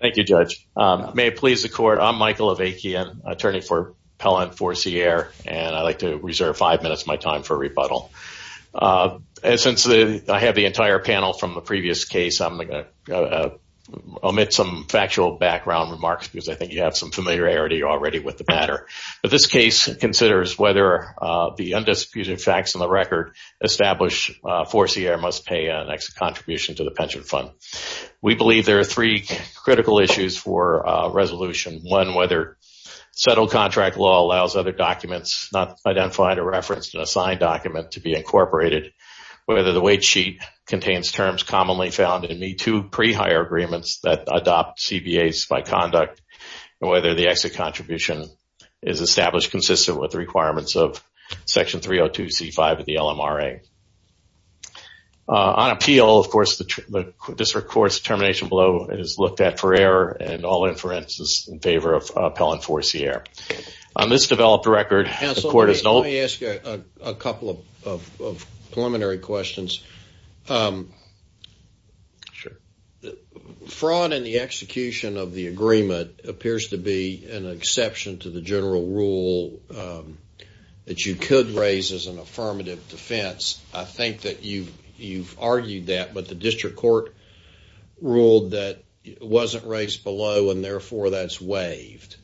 Thank you, Judge. May it please the Court, I'm Michael Avakian, attorney for Pellant Four-C-Aire, and I'd like to reserve five minutes of my time for rebuttal. And since I have the entire panel from the previous case, I'm going to omit some factual background remarks because I think you have some familiarity already with the matter. This case considers whether the undisputed facts in the record establish Four-C-Aire must pay an exit contribution to the pension fund. We believe there are three critical issues for resolution. One, whether settled contract law allows other documents not identified or referenced in a signed document to be incorporated, whether the wage sheet contains terms commonly found in the two pre-hire agreements that adopt CBAs by conduct, and whether the exit contribution is established consistent with the requirements of Pellant Four-C-Aire. On appeal, of course, this Court's determination below is looked at for error and all inferences in favor of Pellant Four-C-Aire. On this developed record, the Court has no- Counsel, let me ask you a couple of preliminary questions. Sure. Fraud in the execution of the agreement appears to be an exception to the general rule that you could raise as an affirmative defense. I think that you've argued that, but the district court ruled that it wasn't raised below and therefore that's waived.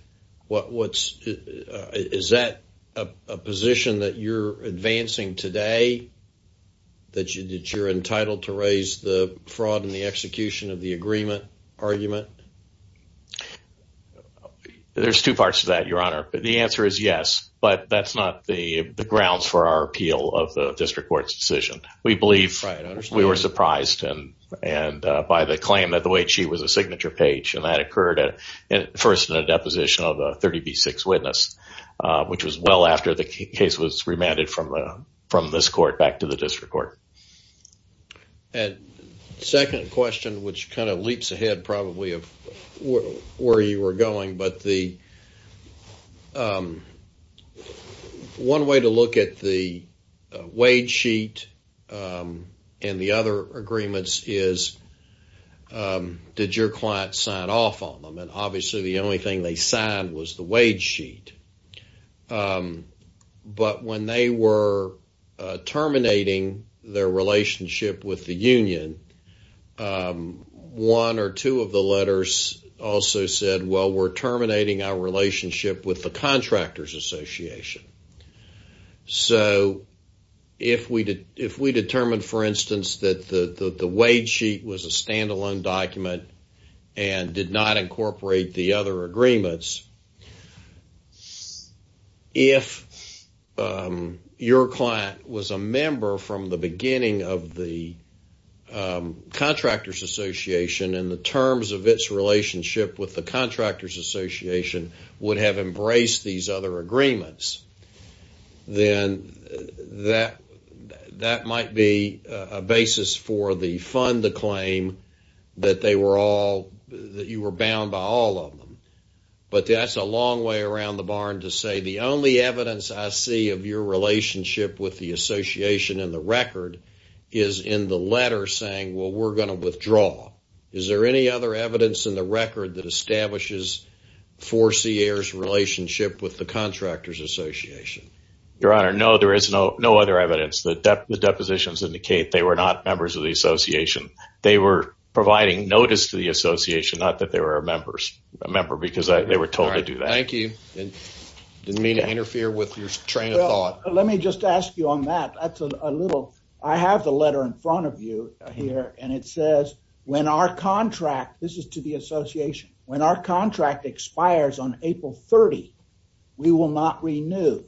Is that a position that you're advancing today, that you're entitled to raise the fraud in the execution of the agreement argument? There's two parts to that, Your Honor. The answer is yes, but that's not the grounds for our appeal of the district court's decision. We believe we were surprised by the claim that the wage sheet was a signature page, and that occurred first in a deposition of a 30B6 witness, which was well after the case was remanded from this Court back to the district court. And second question, which kind of leaps ahead probably of where you were going, but the one way to look at the wage sheet and the other agreements is, did your client sign off on them? And obviously the only thing they signed was the wage sheet, but when they were terminating their relationship with the union, one or two of the letters also said, well, we're terminating our relationship with the Contractors Association. So if we determined, for instance, that the wage sheet was a standalone document and did not incorporate the other agreements, if your client was a member from the beginning of the Contractors Association and the terms of its relationship with the Contractors Association would have embraced these other agreements, then that might be a basis for the fund to claim that you were bound by all of them. But that's a long way around the barn to say the only evidence I see of your relationship with the Association and the record is in the letter saying, well, we're going to withdraw. Is there any other evidence in the record that establishes Fourcier's relationship with the Contractors Association? Your Honor, no, there is no other evidence. The depositions indicate they were not members of the Association. They were providing notice to the Association, not that they were a member, because they were told to do that. Thank you. Didn't mean to interfere with your train of thought. Let me just ask you on that. I have the letter in front of you here and it says, when our contract, this is to the Association, when our contract expires on April 30, we will not renew.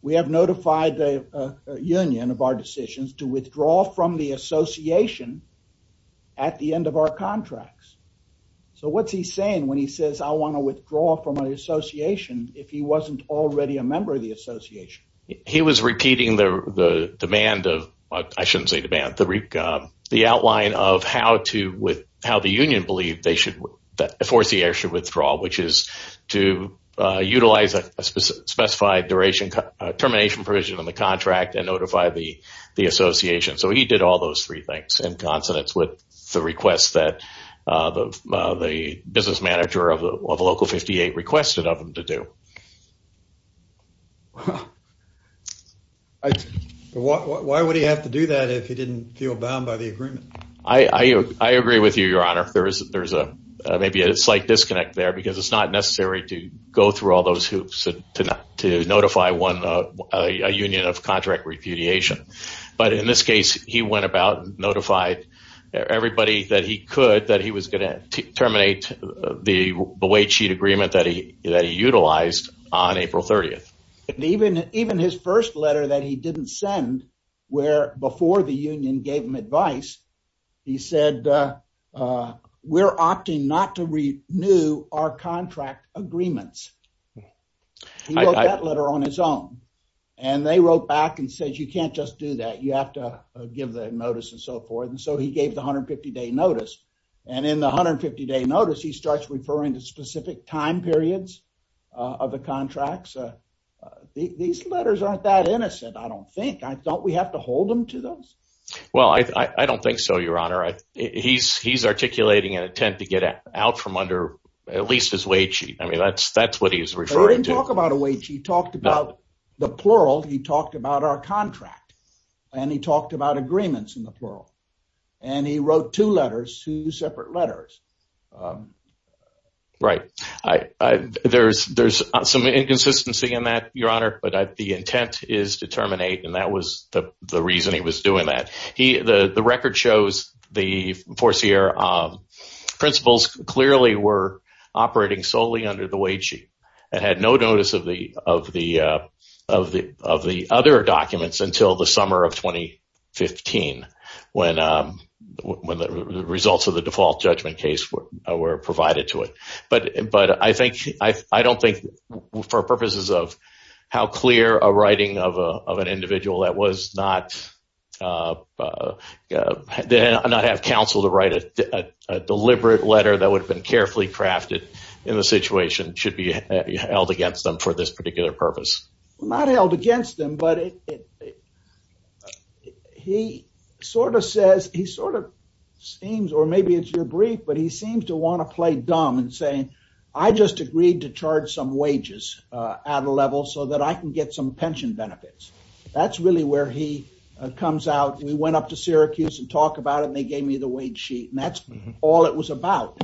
We have notified the Union of our decisions to withdraw from the Association at the end of our contracts. So what's he saying when he says, I want to withdraw from the Association if he wasn't already a member of the Association? He was repeating the demand of, I shouldn't say demand, the outline of how the Union believed that Fourcier should withdraw, which is to utilize a specified termination provision in the contract and notify the Association. So he did all those three things in consonance with the request that the business manager of the Local 58 requested of him to do. Why would he have to do that if he didn't feel bound by the agreement? I agree with you, Your Honor. There's maybe a slight disconnect there because it's not necessary to go through all those hoops to notify a union of contract repudiation. But in this case, he went about and notified everybody that he could that he was going to terminate the wait sheet agreement that he utilized on April 30. Even his first letter that he didn't send, where before the Union gave him advice, he said, we're opting not to renew our contract agreements. He wrote that letter on his own. And they wrote back and said, you can't just do that. You have to give the notice and so forth. And so he gave the 150-day notice. And in the 150-day notice, he starts referring to specific time periods of the contracts. These letters aren't that innocent, I don't think. Don't we have to hold them to those? Well, I don't think so, Your Honor. He's articulating an attempt to get out from under at least his wait sheet. I mean, that's what he's referring to. He didn't talk about a wait sheet. He talked about the plural. He talked about our contract. And he talked about agreements in the plural. And he wrote two letters, two separate letters. Right. There's some inconsistency in that, Your Honor. But the intent is to terminate. And that was the reason he was doing that. The record shows the four-year principles clearly were operating solely under the wait sheet and had no notice of the other documents until the summer of were provided to it. But I don't think, for purposes of how clear a writing of an individual that did not have counsel to write a deliberate letter that would have been carefully crafted in the situation should be held against them for this particular purpose. Not held against them, but he sort of says, he sort of seems, or maybe it's your brief, but he seems to want to play dumb and saying, I just agreed to charge some wages at a level so that I can get some pension benefits. That's really where he comes out. We went up to Syracuse and talk about it, and they gave me the wait sheet. And that's all it was about.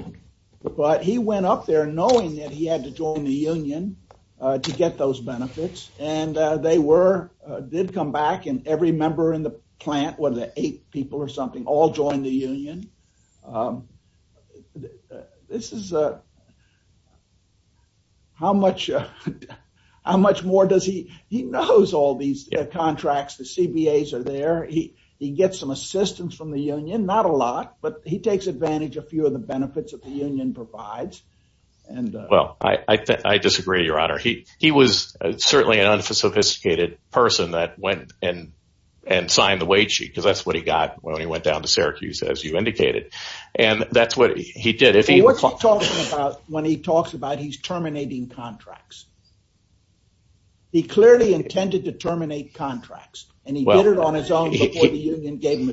But he went up there knowing that he had to join the union to get those benefits. And they were, did come back, and every member in the plant, whether they're eight people or something, all joined the union. This is a, how much more does he, he knows all these contracts, the CBAs are there. He gets some assistance from the union, not a lot, but he takes advantage of a few of the benefits that the union provides. Well, I disagree, your honor. He was certainly an unsophisticated person that went and signed the wait sheet, because that's what he got when he went down to Syracuse, as you indicated. And that's what he did. What's he talking about when he talks about he's terminating contracts? He clearly intended to terminate contracts, and he did it on his own before the union gave him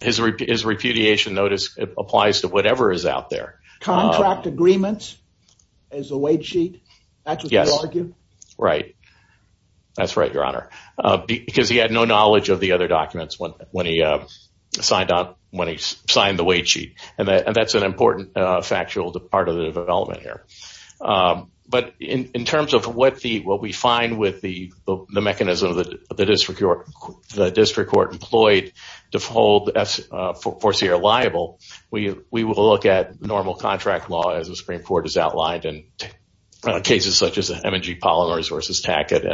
his repudiation notice applies to whatever is out there. Contract agreements as a wait sheet, that's what you argue? Right. That's right, your honor. Because he had no knowledge of the other documents when he signed up, when he signed the wait sheet. And that's an important factual part of the development here. But in terms of what we find with the mechanism that the district court employed to hold Forcier liable, we will look at normal contract law as the Supreme Court has outlined in cases such as M&G Polymers v. Tackett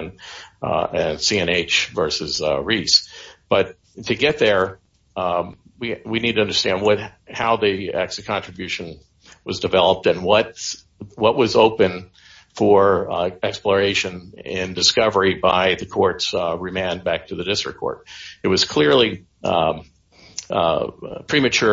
and C&H v. Reese. But to get there, we need to understand how the exit contribution was developed and what was open for exploration and discovery by the court's remand back to the district court. It was clearly premature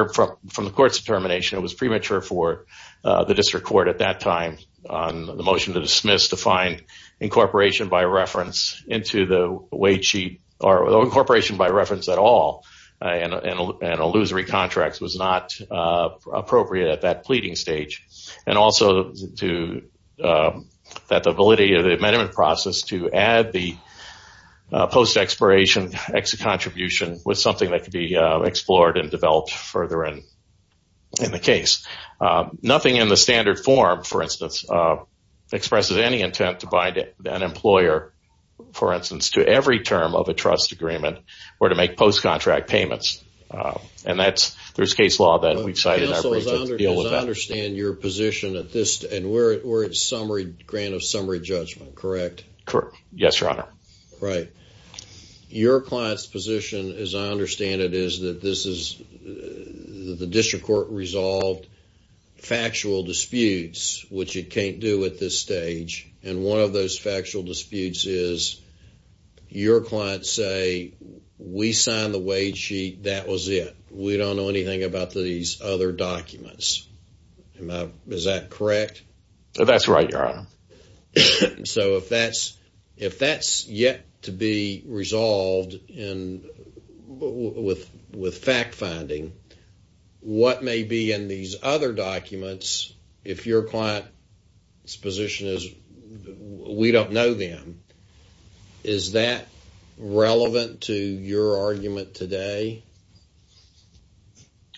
from the court's determination, it was premature for the district court at that time on the motion to dismiss to find incorporation by reference into the wait sheet, or incorporation by reference at all, and illusory contracts was not appropriate at that pleading stage. And also that the ability of the amendment process to add the post-expiration exit contribution was something that could be explored and developed further in the case. Nothing in the standard form, for instance, expresses any intent to bind an employer, for instance, to every term of a trust agreement or to make post-contract payments. And that's, there's case law that we've cited. As I understand your position at this, and we're at grant of summary judgment, correct? Correct. Yes, your honor. Right. Your client's position, as I understand it, is that this is the district court resolved factual disputes, which it can't do at this stage. And one of those factual disputes is your clients say, we signed the wait sheet, that was it. We don't know anything about these other documents. Is that correct? That's right, your honor. So if that's yet to be resolved with fact finding, what may be in these other documents, if your client's position is, we don't know them, is that relevant to your argument today?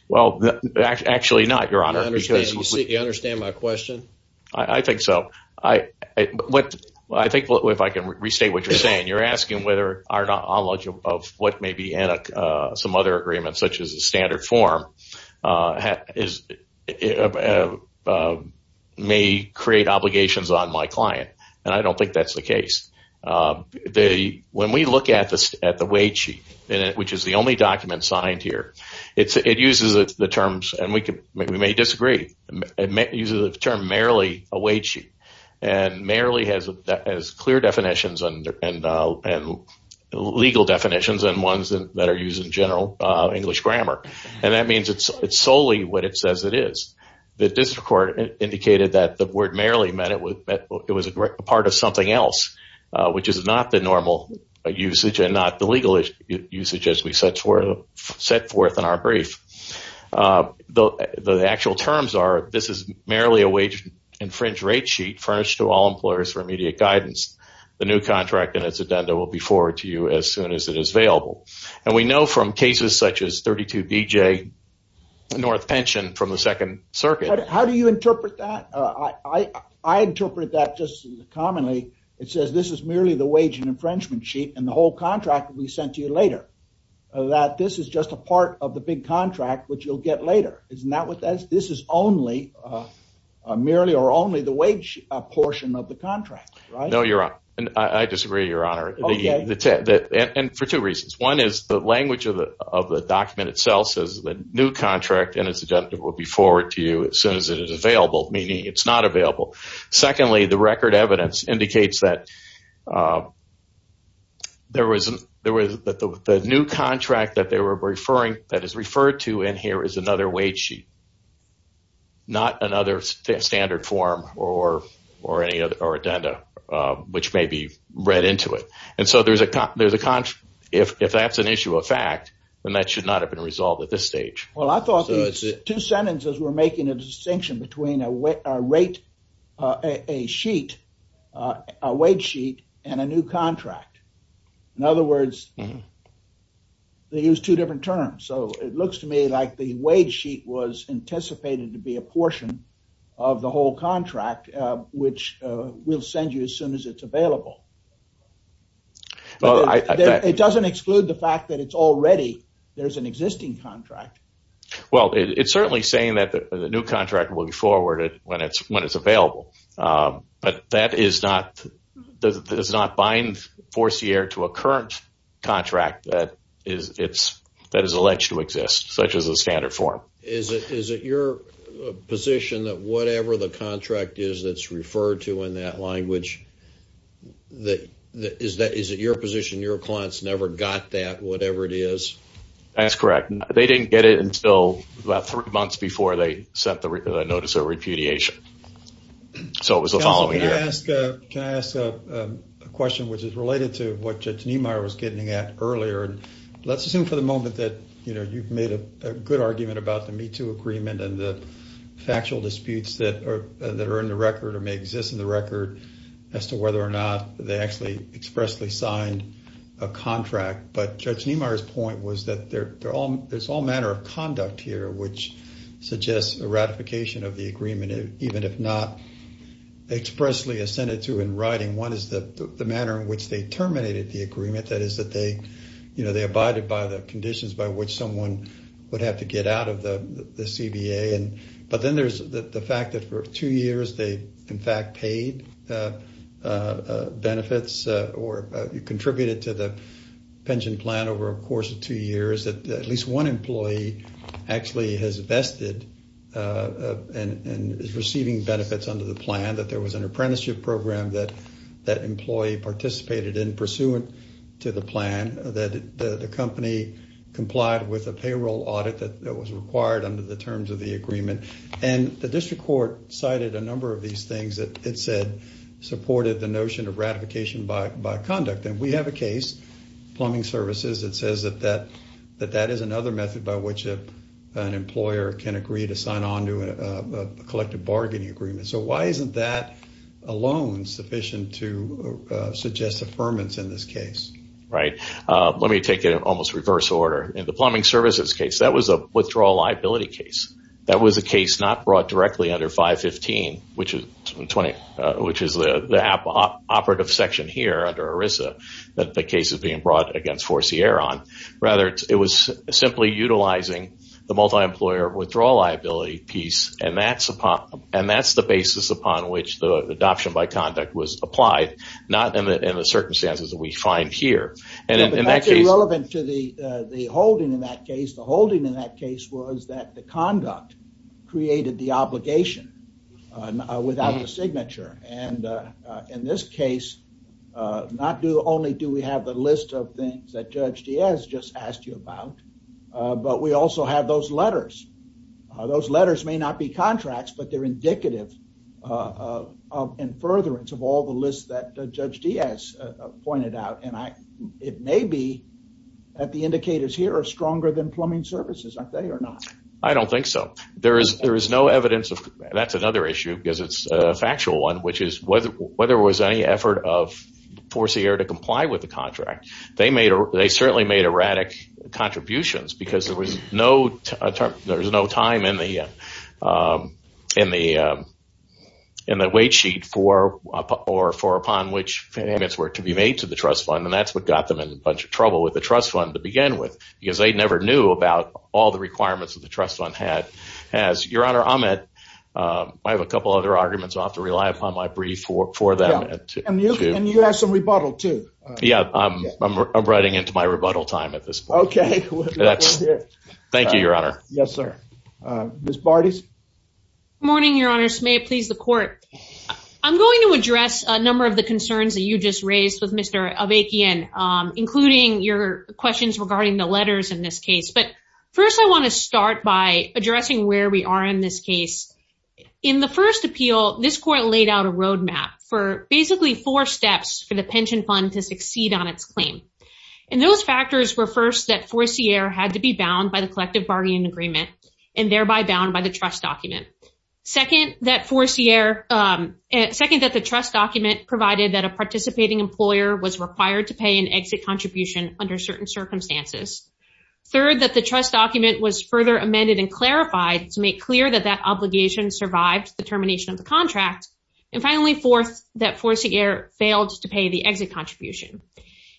Well, actually not, your honor. You understand my question? I think so. I think, if I can restate what you're saying, you're asking whether our knowledge of what may be in some other agreements, such as a standard form, may create obligations on my client. And I don't think that's the case. When we look at the wait sheet, which is the only document signed here, it uses the terms, and we may disagree, it uses the term merely a wait sheet. And merely has clear definitions and legal definitions and ones that are used in general English grammar. And that means it's solely what it says it is. The district court indicated that the word merely meant it was a part of something else, which is not the normal usage and not the set forth in our brief. The actual terms are, this is merely a wage infringe rate sheet furnished to all employers for immediate guidance. The new contract and its addenda will be forward to you as soon as it is available. And we know from cases such as 32BJ North Pension from the second circuit. How do you interpret that? I interpret that just commonly. It says this is merely the part of the big contract, which you'll get later. This is merely or only the wage portion of the contract. I disagree, your honor. And for two reasons. One is the language of the document itself says the new contract and its agenda will be forward to you as soon as it is available, meaning it's not available. Secondly, the record evidence indicates that the new contract that is referred to in here is another wage sheet, not another standard form or addenda, which may be read into it. And so if that's an issue of fact, then that should not have been resolved at this stage. Well, I thought these two sentences were making a distinction between a rate, a sheet, a wage sheet and a new contract. In other words, they use two different terms. So it looks to me like the wage sheet was anticipated to be a portion of the whole contract, which we'll send you as soon as it's available. It doesn't exclude the fact that it's already there's an existing contract. Well, it's certainly saying that the new contract will be forwarded when it's when it's available. But that is not does not bind force here to a current contract that is it's that is alleged to exist such as a standard form. Is it your position that whatever the contract is that's referred to in that language? That is that is it your position, your clients never got that, whatever it is? That's correct. They didn't get it until about three months before they sent the notice of repudiation. So it was the following year. Can I ask a question which is related to what Judge Niemeyer was getting at earlier? And let's assume for the moment that, you know, you've made a good argument about the MeToo agreement and the factual disputes that are that are in the record or may exist in record as to whether or not they actually expressly signed a contract. But Judge Niemeyer's point was that they're all there's all manner of conduct here, which suggests a ratification of the agreement, even if not expressly assented to in writing. One is the manner in which they terminated the agreement. That is that they, you know, they abided by the conditions by which someone would have to get out of the CBA. And but then there's the fact that for two years, they in fact paid benefits or contributed to the pension plan over a course of two years, that at least one employee actually has vested and is receiving benefits under the plan, that there was an apprenticeship program that that employee participated in pursuant to the plan, that the company complied with a payroll audit that was required under the terms of the agreement. And the district court cited a number of these things that it said supported the notion of ratification by conduct. And we have a case, plumbing services, that says that that that is another method by which an employer can agree to sign on to a collective bargaining agreement. So why isn't that alone sufficient to suggest affirmance in this case? Right. Let me take it in almost reverse order. In the plumbing services case, that was a withdrawal liability case. That was a case not brought directly under 515, which is the operative section here under ERISA, that the case is being brought against Forcieron. Rather, it was simply utilizing the multi-employer withdrawal liability piece. And that's the basis upon which the adoption by conduct was applied, not in the circumstances that we find here. And that's irrelevant to the holding in that case. The holding in that case was that the conduct created the obligation without the signature. And in this case, not do only do we have the list of things that Judge Diaz just asked you about, but we also have those letters. Those letters may not be contracts, but they're indicative in furtherance of all the lists that Judge Diaz pointed out. And I, it may be that the services, are they or not? I don't think so. There is no evidence of, that's another issue because it's a factual one, which is whether there was any effort of Forcier to comply with the contract. They certainly made erratic contributions because there was no time in the wait sheet for, or for upon which payments were to be made to the trust fund. And that's what got them in a bunch of trouble with the trust fund to begin with, because they never knew about all the requirements that the trust fund had. As your honor, I'm at, I have a couple other arguments off to rely upon my brief for, for them. And you have some rebuttal too. Yeah. I'm, I'm writing into my rebuttal time at this point. Okay. Thank you, your honor. Yes, sir. Ms. Barty's morning, your honors may please the court. I'm going to address a number of the concerns that you just raised with Mr. Avakian, including your questions regarding the letters in this case. But first, I want to start by addressing where we are in this case. In the first appeal, this court laid out a roadmap for basically four steps for the pension fund to succeed on its claim. And those factors were first that Forcier had to be bound by the collective bargaining agreement and thereby bound by the trust document. Second, that Forcier, second, that the trust document provided that participating employer was required to pay an exit contribution under certain circumstances. Third, that the trust document was further amended and clarified to make clear that that obligation survived the termination of the contract. And finally fourth, that Forcier failed to pay the exit contribution.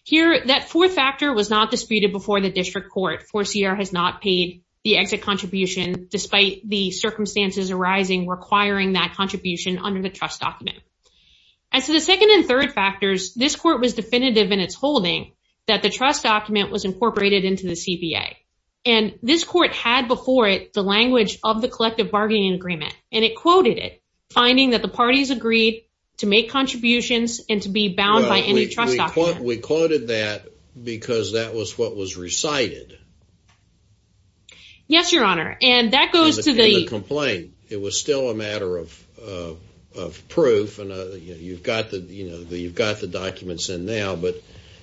Here, that fourth factor was not disputed before the district court. Forcier has not paid the exit contribution despite the circumstances arising requiring that this court was definitive in its holding that the trust document was incorporated into the CBA. And this court had before it the language of the collective bargaining agreement and it quoted it, finding that the parties agreed to make contributions and to be bound by any trust. We quoted that because that was what was recited. Yes, your honor. And that goes to the complaint. It was still a matter of documents in now, but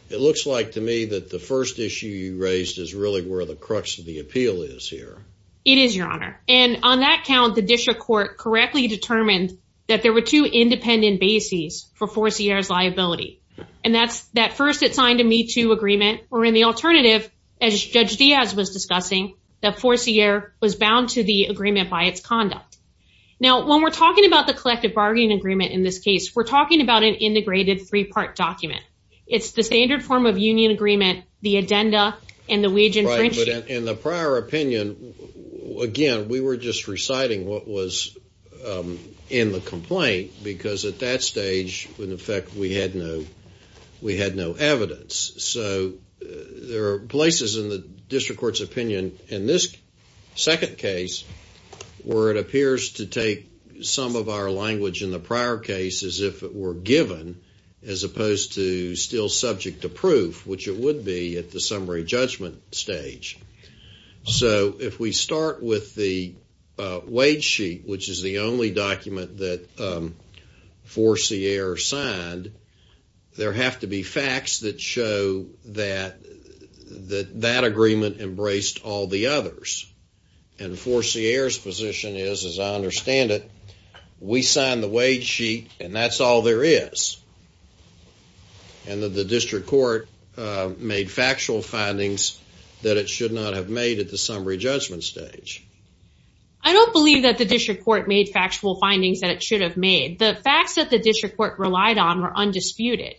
it looks like to me that the first issue you raised is really where the crux of the appeal is here. It is, your honor. And on that count, the district court correctly determined that there were two independent bases for Forcier's liability. And that's that first it signed a Me Too agreement or in the alternative, as Judge Diaz was discussing, that Forcier was bound to the agreement by its conduct. Now, when we're talking about the collective bargaining agreement in this case, we're talking about an integrated three-part document. It's the standard form of union agreement, the addenda, and the wage infringement. In the prior opinion, again, we were just reciting what was in the complaint because at that stage, in effect, we had no evidence. So there are places in the district court's opinion in this second case where it appears to take some of our language in the prior cases if it were given as opposed to still subject to proof, which it would be at the summary judgment stage. So if we start with the wage sheet, which is the only document that Forcier signed, there have to be facts that that that agreement embraced all the others. And Forcier's position is, as I understand it, we signed the wage sheet and that's all there is. And that the district court made factual findings that it should not have made at the summary judgment stage. I don't believe that the district court made factual findings that it should have made. The facts that the district court relied on were undisputed.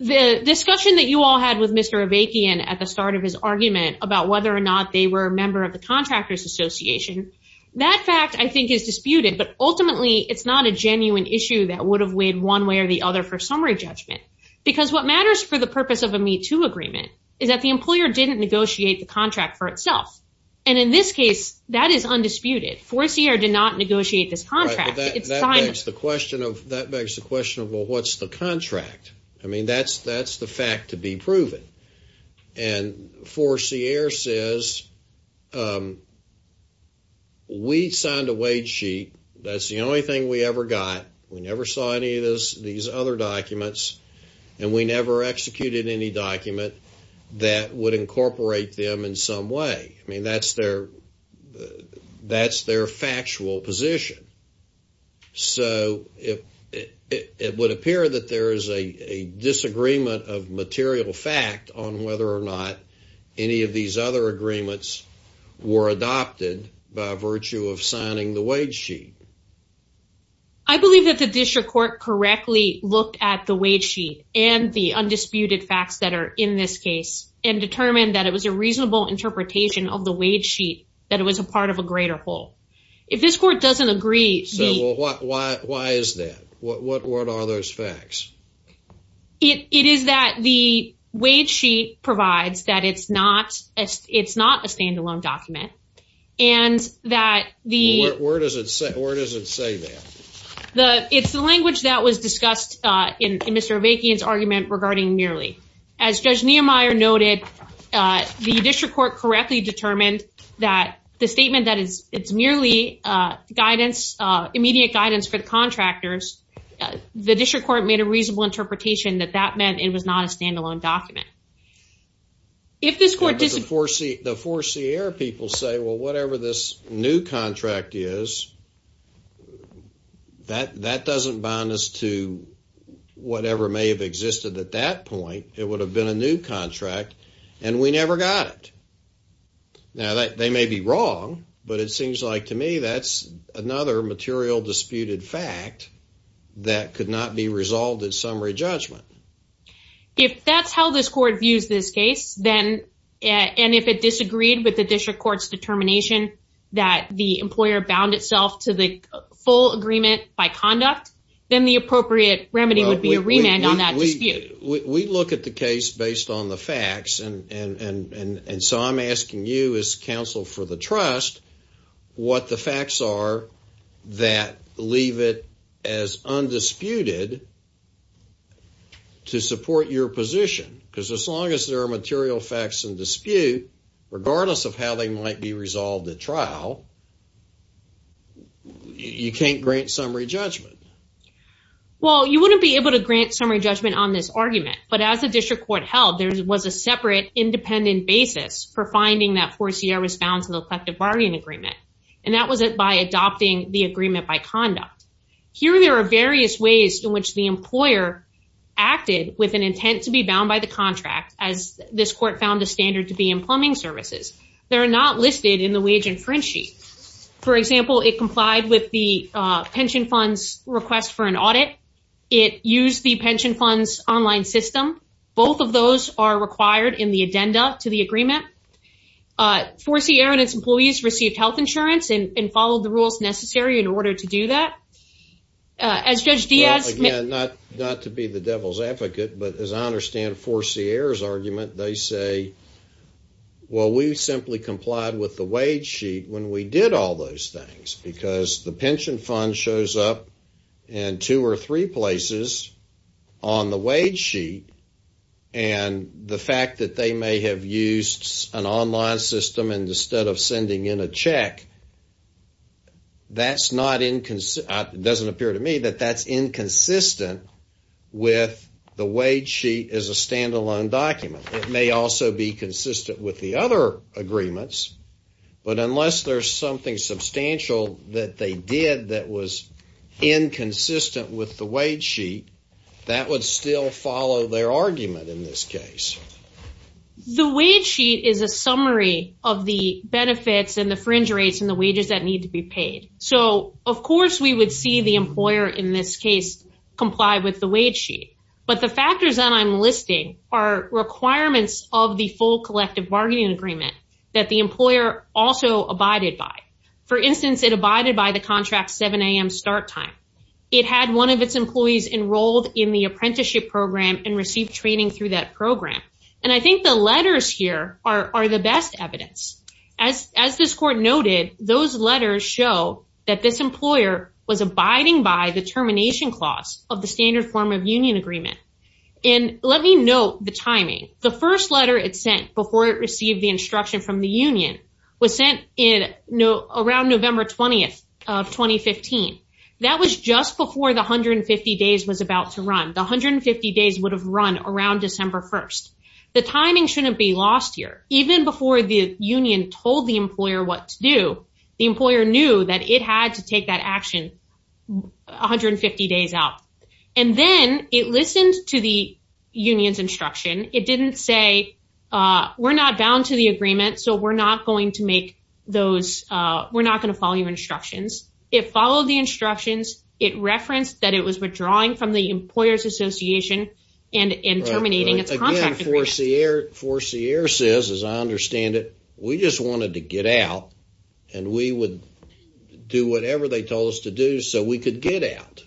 The discussion that you all had with Mr. Avakian at the start of his argument about whether or not they were a member of the Contractors Association, that fact, I think, is disputed. But ultimately, it's not a genuine issue that would have weighed one way or the other for summary judgment. Because what matters for the purpose of a MeToo agreement is that the employer didn't negotiate the contract for itself. And in this case, that is undisputed. Forcier did not negotiate this contract. That begs the question of, well, what's the contract? I mean, that's the fact to be proven. And Forcier says, we signed a wage sheet. That's the only thing we ever got. We never saw any of this, these other documents. And we never executed any document that would incorporate them in some way. I mean, that's their factual position. So it would appear that there is a disagreement of material fact on whether or not any of these other agreements were adopted by virtue of signing the wage sheet. I believe that the district court correctly looked at the wage sheet and the of the wage sheet, that it was a part of a greater whole. If this court doesn't agree, why is that? What are those facts? It is that the wage sheet provides that it's not a standalone document. And that the... Where does it say that? It's the language that was discussed in Mr. Avakian's argument regarding merely. As Judge Niemeyer noted, the district court correctly determined that the statement that it's merely immediate guidance for the contractors, the district court made a reasonable interpretation that that meant it was not a standalone document. If this court... The Forcier people say, well, whatever this new contract is, that doesn't bound us to whatever may have existed at that point. It would have been a new contract and we never got it. Now, they may be wrong, but it seems like to me that's another material disputed fact that could not be resolved at summary judgment. If that's how this court views this case, then... And if it disagreed with the district court's determination that the employer bound itself to the full agreement by conduct, then the appropriate remedy would be a remand on that dispute. We look at the case based on the facts. And so I'm asking you as counsel for the trust, what the facts are that leave it as undisputed to support your position. Because as long as there are material facts in dispute, regardless of how they might be resolved at trial, you can't grant summary judgment. Well, you wouldn't be able to grant summary judgment on this argument. But as the district court held, there was a separate independent basis for finding that Forcier was bound to the collective bargaining agreement. And that was by adopting the agreement by conduct. Here, there are various ways in which the employer acted with an intent to be bound by the contract as this court found the standard to be in plumbing services. They're not listed in the contract. For example, it complied with the pension funds request for an audit. It used the pension funds online system. Both of those are required in the addenda to the agreement. Forcier and its employees received health insurance and followed the rules necessary in order to do that. As Judge Diaz... Again, not to be the devil's advocate, but as I understand Forcier's argument, they say, well, we simply complied with the wage sheet when we did all those things because the pension fund shows up in two or three places on the wage sheet. And the fact that they may have used an online system instead of sending in a check, that's not inconsistent. It doesn't appear to me that that's inconsistent with the wage sheet as a standalone document. It may also be consistent with the other agreements, but unless there's something substantial that they did that was inconsistent with the wage sheet, that would still follow their argument in this case. The wage sheet is a summary of the benefits and the fringe rates and the wages that need to be complied with the wage sheet. But the factors that I'm listing are requirements of the full collective bargaining agreement that the employer also abided by. For instance, it abided by the contract 7 a.m. start time. It had one of its employees enrolled in the apprenticeship program and received training through that program. And I think the letters here are the best evidence. As this court noted, those letters show that this employer was abiding by the termination clause of the standard form of union agreement. And let me note the timing. The first letter it sent before it received the instruction from the union was sent in around November 20th of 2015. That was just before the 150 days was about to run. The 150 days would have run around December 1st. The timing shouldn't be lost here. Even before the union told the employer what to do, the employer knew that it had to take that action 150 days out. And then it listened to the union's instruction. It didn't say, we're not bound to the agreement, so we're not going to make those, we're not going to follow your instructions. It followed the instructions. It referenced that it was withdrawing from the employer's association and terminating its 4C-ER. 4C-ER says, as I understand it, we just wanted to get out and we would do whatever they told us to do so we could get out.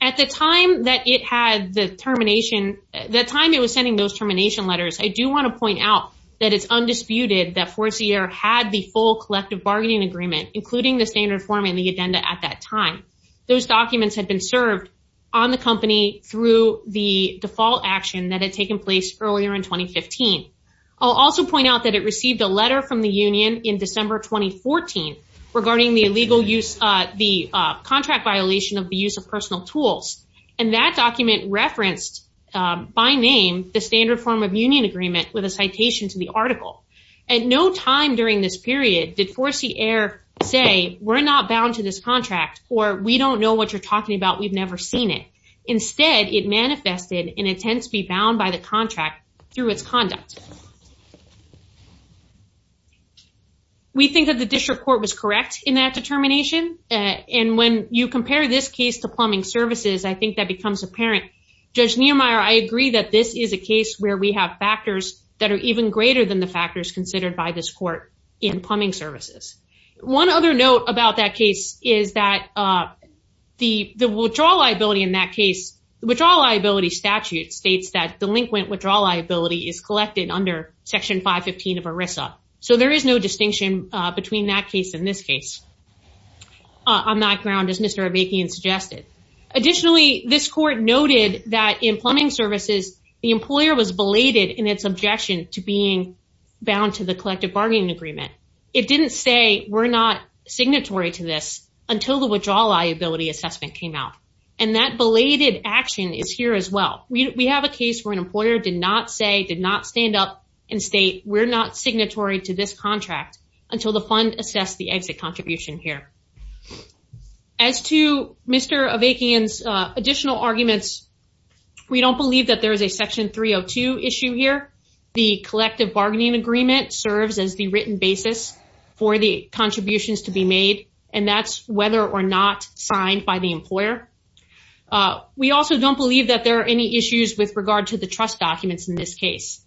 At the time that it had the termination, the time it was sending those termination letters, I do want to point out that it's undisputed that 4C-ER had the full collective bargaining agreement, including the standard form and the agenda at that time. Those documents had been served on the company through the default action that had taken place earlier in 2015. I'll also point out that it received a letter from the union in December 2014 regarding the contract violation of the use of personal tools. And that document referenced, by name, the standard form of union agreement with a citation to the article. At no time during this period did 4C-ER say, we're not bound to this contract, or we don't know what you're talking about, we've never seen it. Instead, it manifested an intent to be bound by the contract through its conduct. We think that the district court was correct in that determination. And when you compare this case to plumbing services, I think that becomes apparent. Judge Niemeyer, I agree that this is a case where we have factors that are even greater than the factors considered by this court in plumbing services. One other note about that case is that the withdrawal liability in that case, the withdrawal liability statute states that delinquent withdrawal liability is collected under Section 515 of ERISA. So there is no distinction between that case and this case on that ground, as Mr. Avakian suggested. Additionally, this court noted that in plumbing services, the employer was belated in its It didn't say, we're not signatory to this until the withdrawal liability assessment came out. And that belated action is here as well. We have a case where an employer did not say, did not stand up and state, we're not signatory to this contract until the fund assessed the exit contribution here. As to Mr. Avakian's additional arguments, we don't believe that there is a Section 302 issue here. The collective bargaining agreement serves as the written basis for the contributions to be made, and that's whether or not signed by the employer. We also don't believe that there are any issues with regard to the trust documents in this case.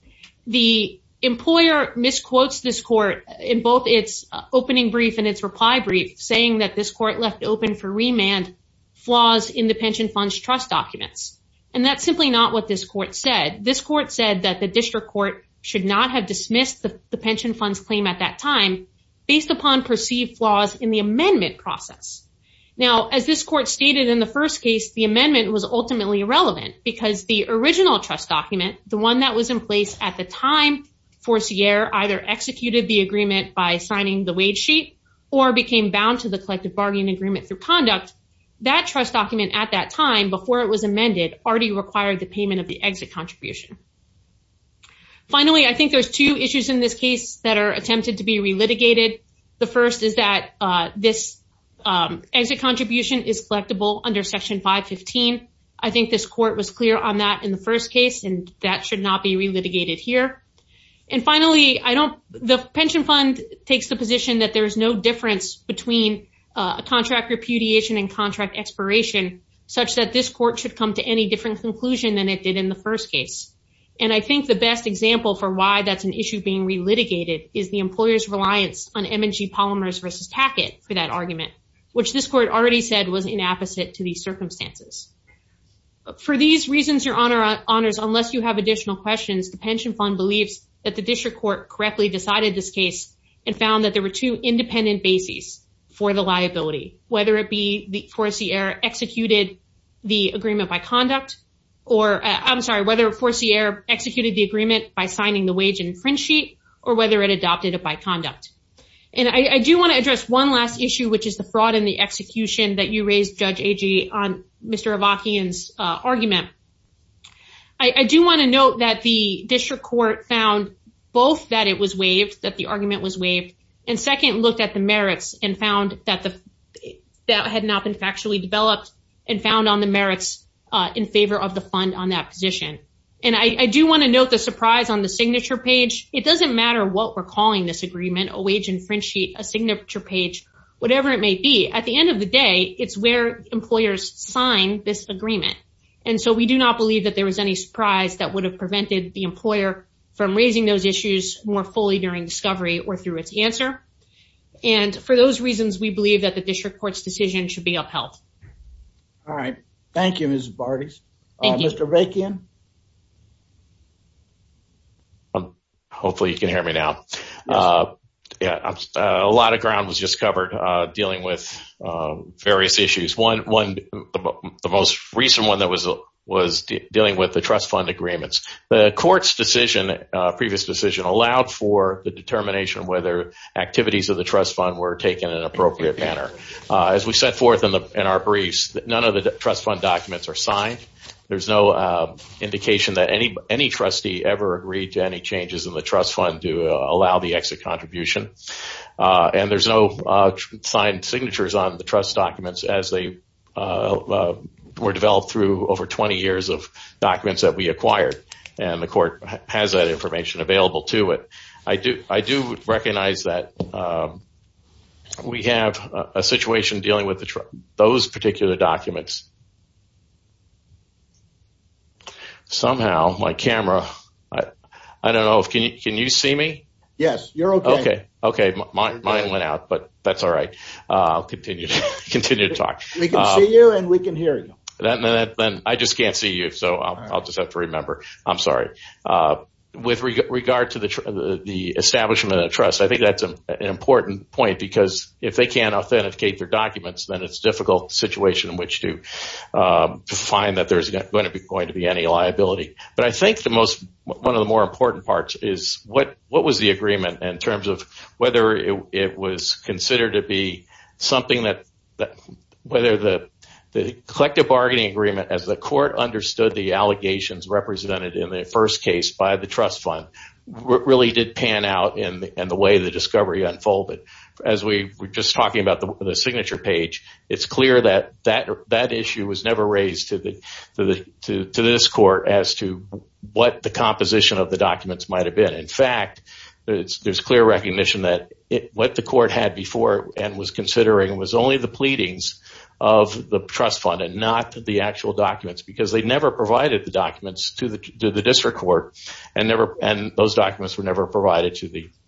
The employer misquotes this court in both its opening brief and its reply brief, saying that this court left open for remand flaws in the pension funds trust documents. And that's simply not what this court said. This court said that the district court should not have dismissed the pension funds claim at that time based upon perceived flaws in the amendment process. Now, as this court stated in the first case, the amendment was ultimately irrelevant because the original trust document, the one that was in place at the time, Forcier either executed the agreement by signing the wage sheet or became bound to the collective bargaining agreement through conduct. That trust document at that time, before it was amended, already required the payment of the exit contribution. Finally, I think there's two issues in this case that are attempted to be re-litigated. The first is that this exit contribution is collectible under Section 515. I think this court was clear on that in the first case, and that should not be re-litigated here. And finally, the pension fund takes the position that there is no difference between contract repudiation and contract expiration, such that this court should come to any different conclusion than it did in the first case. And I think the best example for why that's an issue being re-litigated is the employer's reliance on M&G Polymers versus Tack-It for that argument, which this court already said was inapposite to these circumstances. For these reasons, your honors, unless you have additional questions, the pension fund believes that the district court correctly decided this case and found that there were two independent bases for the liability, whether it be the foreseer executed the agreement by conduct, or I'm sorry, whether foreseer executed the agreement by signing the wage infringe sheet, or whether it adopted it by conduct. And I do want to address one last issue, which is the fraud in the execution that you raised, Judge Agee, on Mr. Avakian's argument. I do want to note that the district court found both that it was waived, that the argument was waived, and second, looked at the merits and found that had not been factually developed and found on the merits in favor of the fund on that position. And I do want to note the surprise on the signature page. It doesn't matter what we're calling this agreement, a wage infringe sheet, a signature page, whatever it may be. At the end of the day, it's where employers sign this agreement. And so we do not believe that there was any surprise that would have prevented the employer from raising those issues more fully during discovery or through its answer. And for those reasons, we believe that the district court's decision should be upheld. All right. Thank you, Ms. Barty. Mr. Avakian? Hopefully you can hear me now. A lot of ground was just covered dealing with various issues. The most recent one that was dealing with the trust fund agreements. The court's decision, previous decision, allowed for the determination whether activities of the trust fund were taken in an appropriate manner. As we set forth in our briefs, none of the trust fund documents are signed. There's no indication that any trustee ever agreed to any changes in the trust fund to allow the exit contribution. And there's no signed signatures on the trust documents as they were developed through over 20 years of documents that we acquired. And the court has that information available to it. I do recognize that we have a situation dealing with those particular documents. Somehow my camera, I don't know, can you see me? Yes, you're okay. Okay. Okay. Mine went out, but that's all right. I'll continue to talk. We can see you and we can hear you. I just can't see you, so I'll just have to remember. I'm sorry. With regard to the establishment of trust, I think that's an important point because if they can't authenticate their documents, then it's a difficult situation in which to find that there's going to be any liability. But I think one of the more important parts is what was the agreement in terms of whether it was considered to be something that, whether the collective bargaining agreement as the court understood the allegations represented in the first case by the trust fund really did pan out in the way the discovery unfolded. As we were just talking about the signature page, it's clear that that issue was never raised to this court as to what the composition of the documents might have been. In fact, there's clear recognition that what the court had before and was considering was only the pleadings of the trust fund and not the actual documents because they never provided the documents to the district court and those documents were never provided in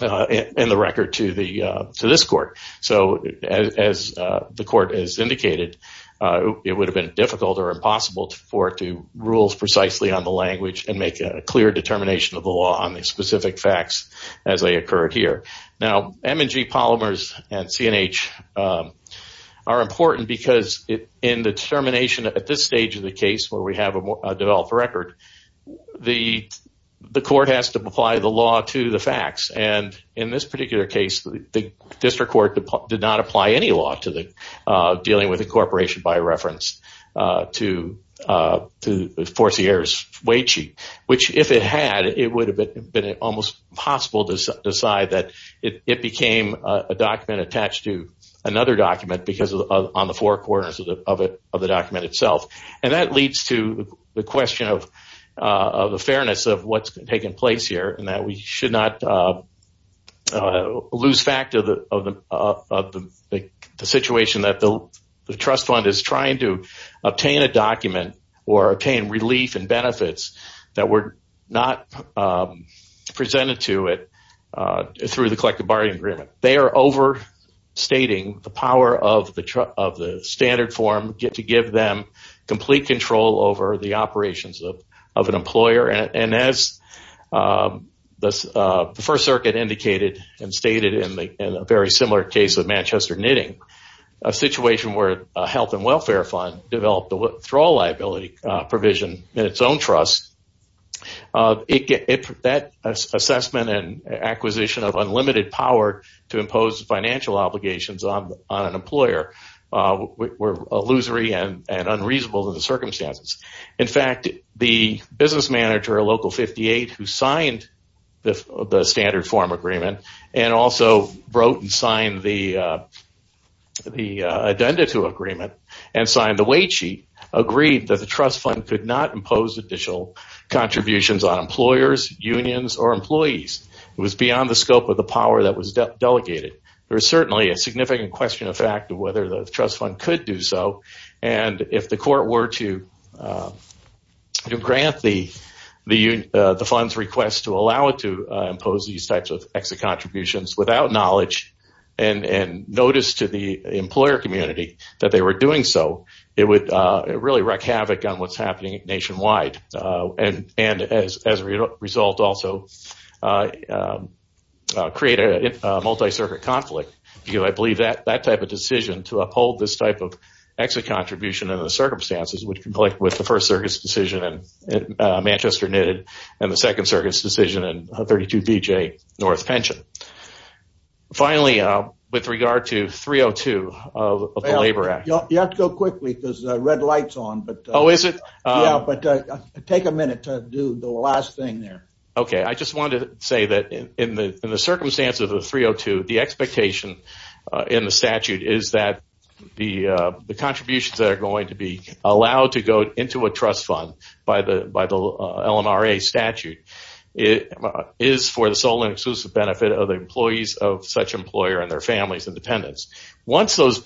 the record to this court. So, as the court has indicated, it would have been difficult or impossible for it to rule precisely on the language and make a clear determination of the law on the specific facts as they occurred here. Now, M&G polymers and CNH are important because in the determination at this stage of the case where we have a developed record, the court has to apply the law to the facts. And in this particular case, the district court did not apply any law to dealing with incorporation by reference to Forcier's weight sheet, which if it had, it would have been almost impossible to decide that it became a document attached to another document because on the four corners of the document itself. And that leads to the question of the fairness of what's taking place here and that we should not lose fact of the situation that the trust fund is trying to obtain a document or obtain relief and benefits that were not presented to it through the collective bargaining agreement. They are overstating the power of the standard form to give them complete control over the operations of an employer. And as the First Circuit indicated and stated in a very similar case of Manchester Knitting, a situation where a health and welfare fund developed a withdrawal liability provision in its own trust, that assessment and acquisition of unlimited power to impose financial obligations on an employer were illusory and unreasonable in the circumstances. In fact, the business manager of Local 58 who signed the standard form agreement and wrote and signed the addenda to agreement and signed the weight sheet agreed that the trust fund could not impose additional contributions on employers, unions, or employees. It was beyond the scope of the power that was delegated. There is certainly a significant question of fact of whether the trust fund could do so and if the court were to grant the fund's request to allow it to impose these types of exit contributions without knowledge and notice to the employer community that they were doing so, it would really wreak havoc on what's happening nationwide and as a result also create a multi-circuit conflict. I believe that type of decision to uphold this type of exit contribution in the circumstances would conflict with the First Circuit's decision in Manchester Knitting and the Second Circuit's 32BJ North Pension. Finally, with regard to 302 of the Labor Act. You have to go quickly because the red light is on. Oh, is it? Take a minute to do the last thing there. Okay, I just wanted to say that in the circumstances of 302, the expectation in the statute is that the contributions that are going to be allowed to go into a trust fund by the LMRA statute is for the sole and exclusive benefit of the employees of such employer and their families and dependents. Once those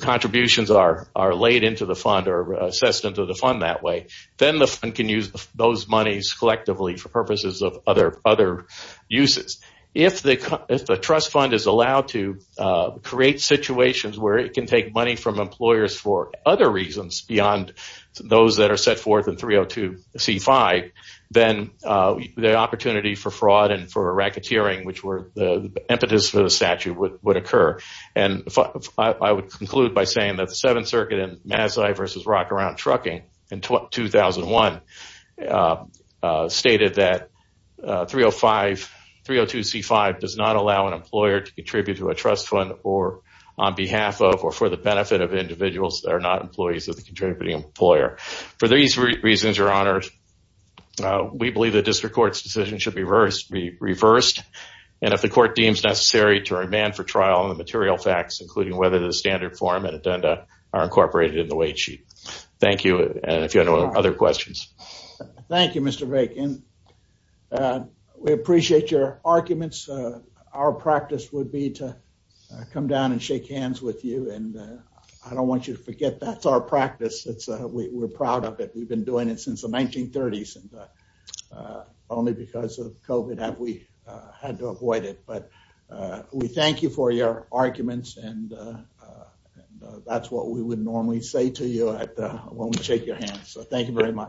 contributions are laid into the fund or assessed into the fund that way, then the fund can use those monies collectively for purposes of other uses. If the trust fund is allowed to create situations where it can take money from employers for other reasons beyond those that are set forth in 302C5, then the opportunity for fraud and for racketeering, which were the impetus for the statute, would occur. I would conclude by saying that the Seventh Circuit in Massey v. Rockaround Trucking in 2001 stated that 302C5 does not allow an employer to contribute to employees of the contributing employer. For these reasons, Your Honor, we believe the district court's decision should be reversed and if the court deems necessary to remand for trial on the material facts, including whether the standard form and addenda are incorporated in the wait sheet. Thank you, and if you have any other questions. Thank you, Mr. Rake. We appreciate your arguments. Our practice would be to come down and shake hands with you, and I don't want you to forget that's our practice. We're proud of it. We've been doing it since the 1930s, and only because of COVID have we had to avoid it, but we thank you for your arguments, and that's what we would normally say to you when we shake your hands, so thank you very much.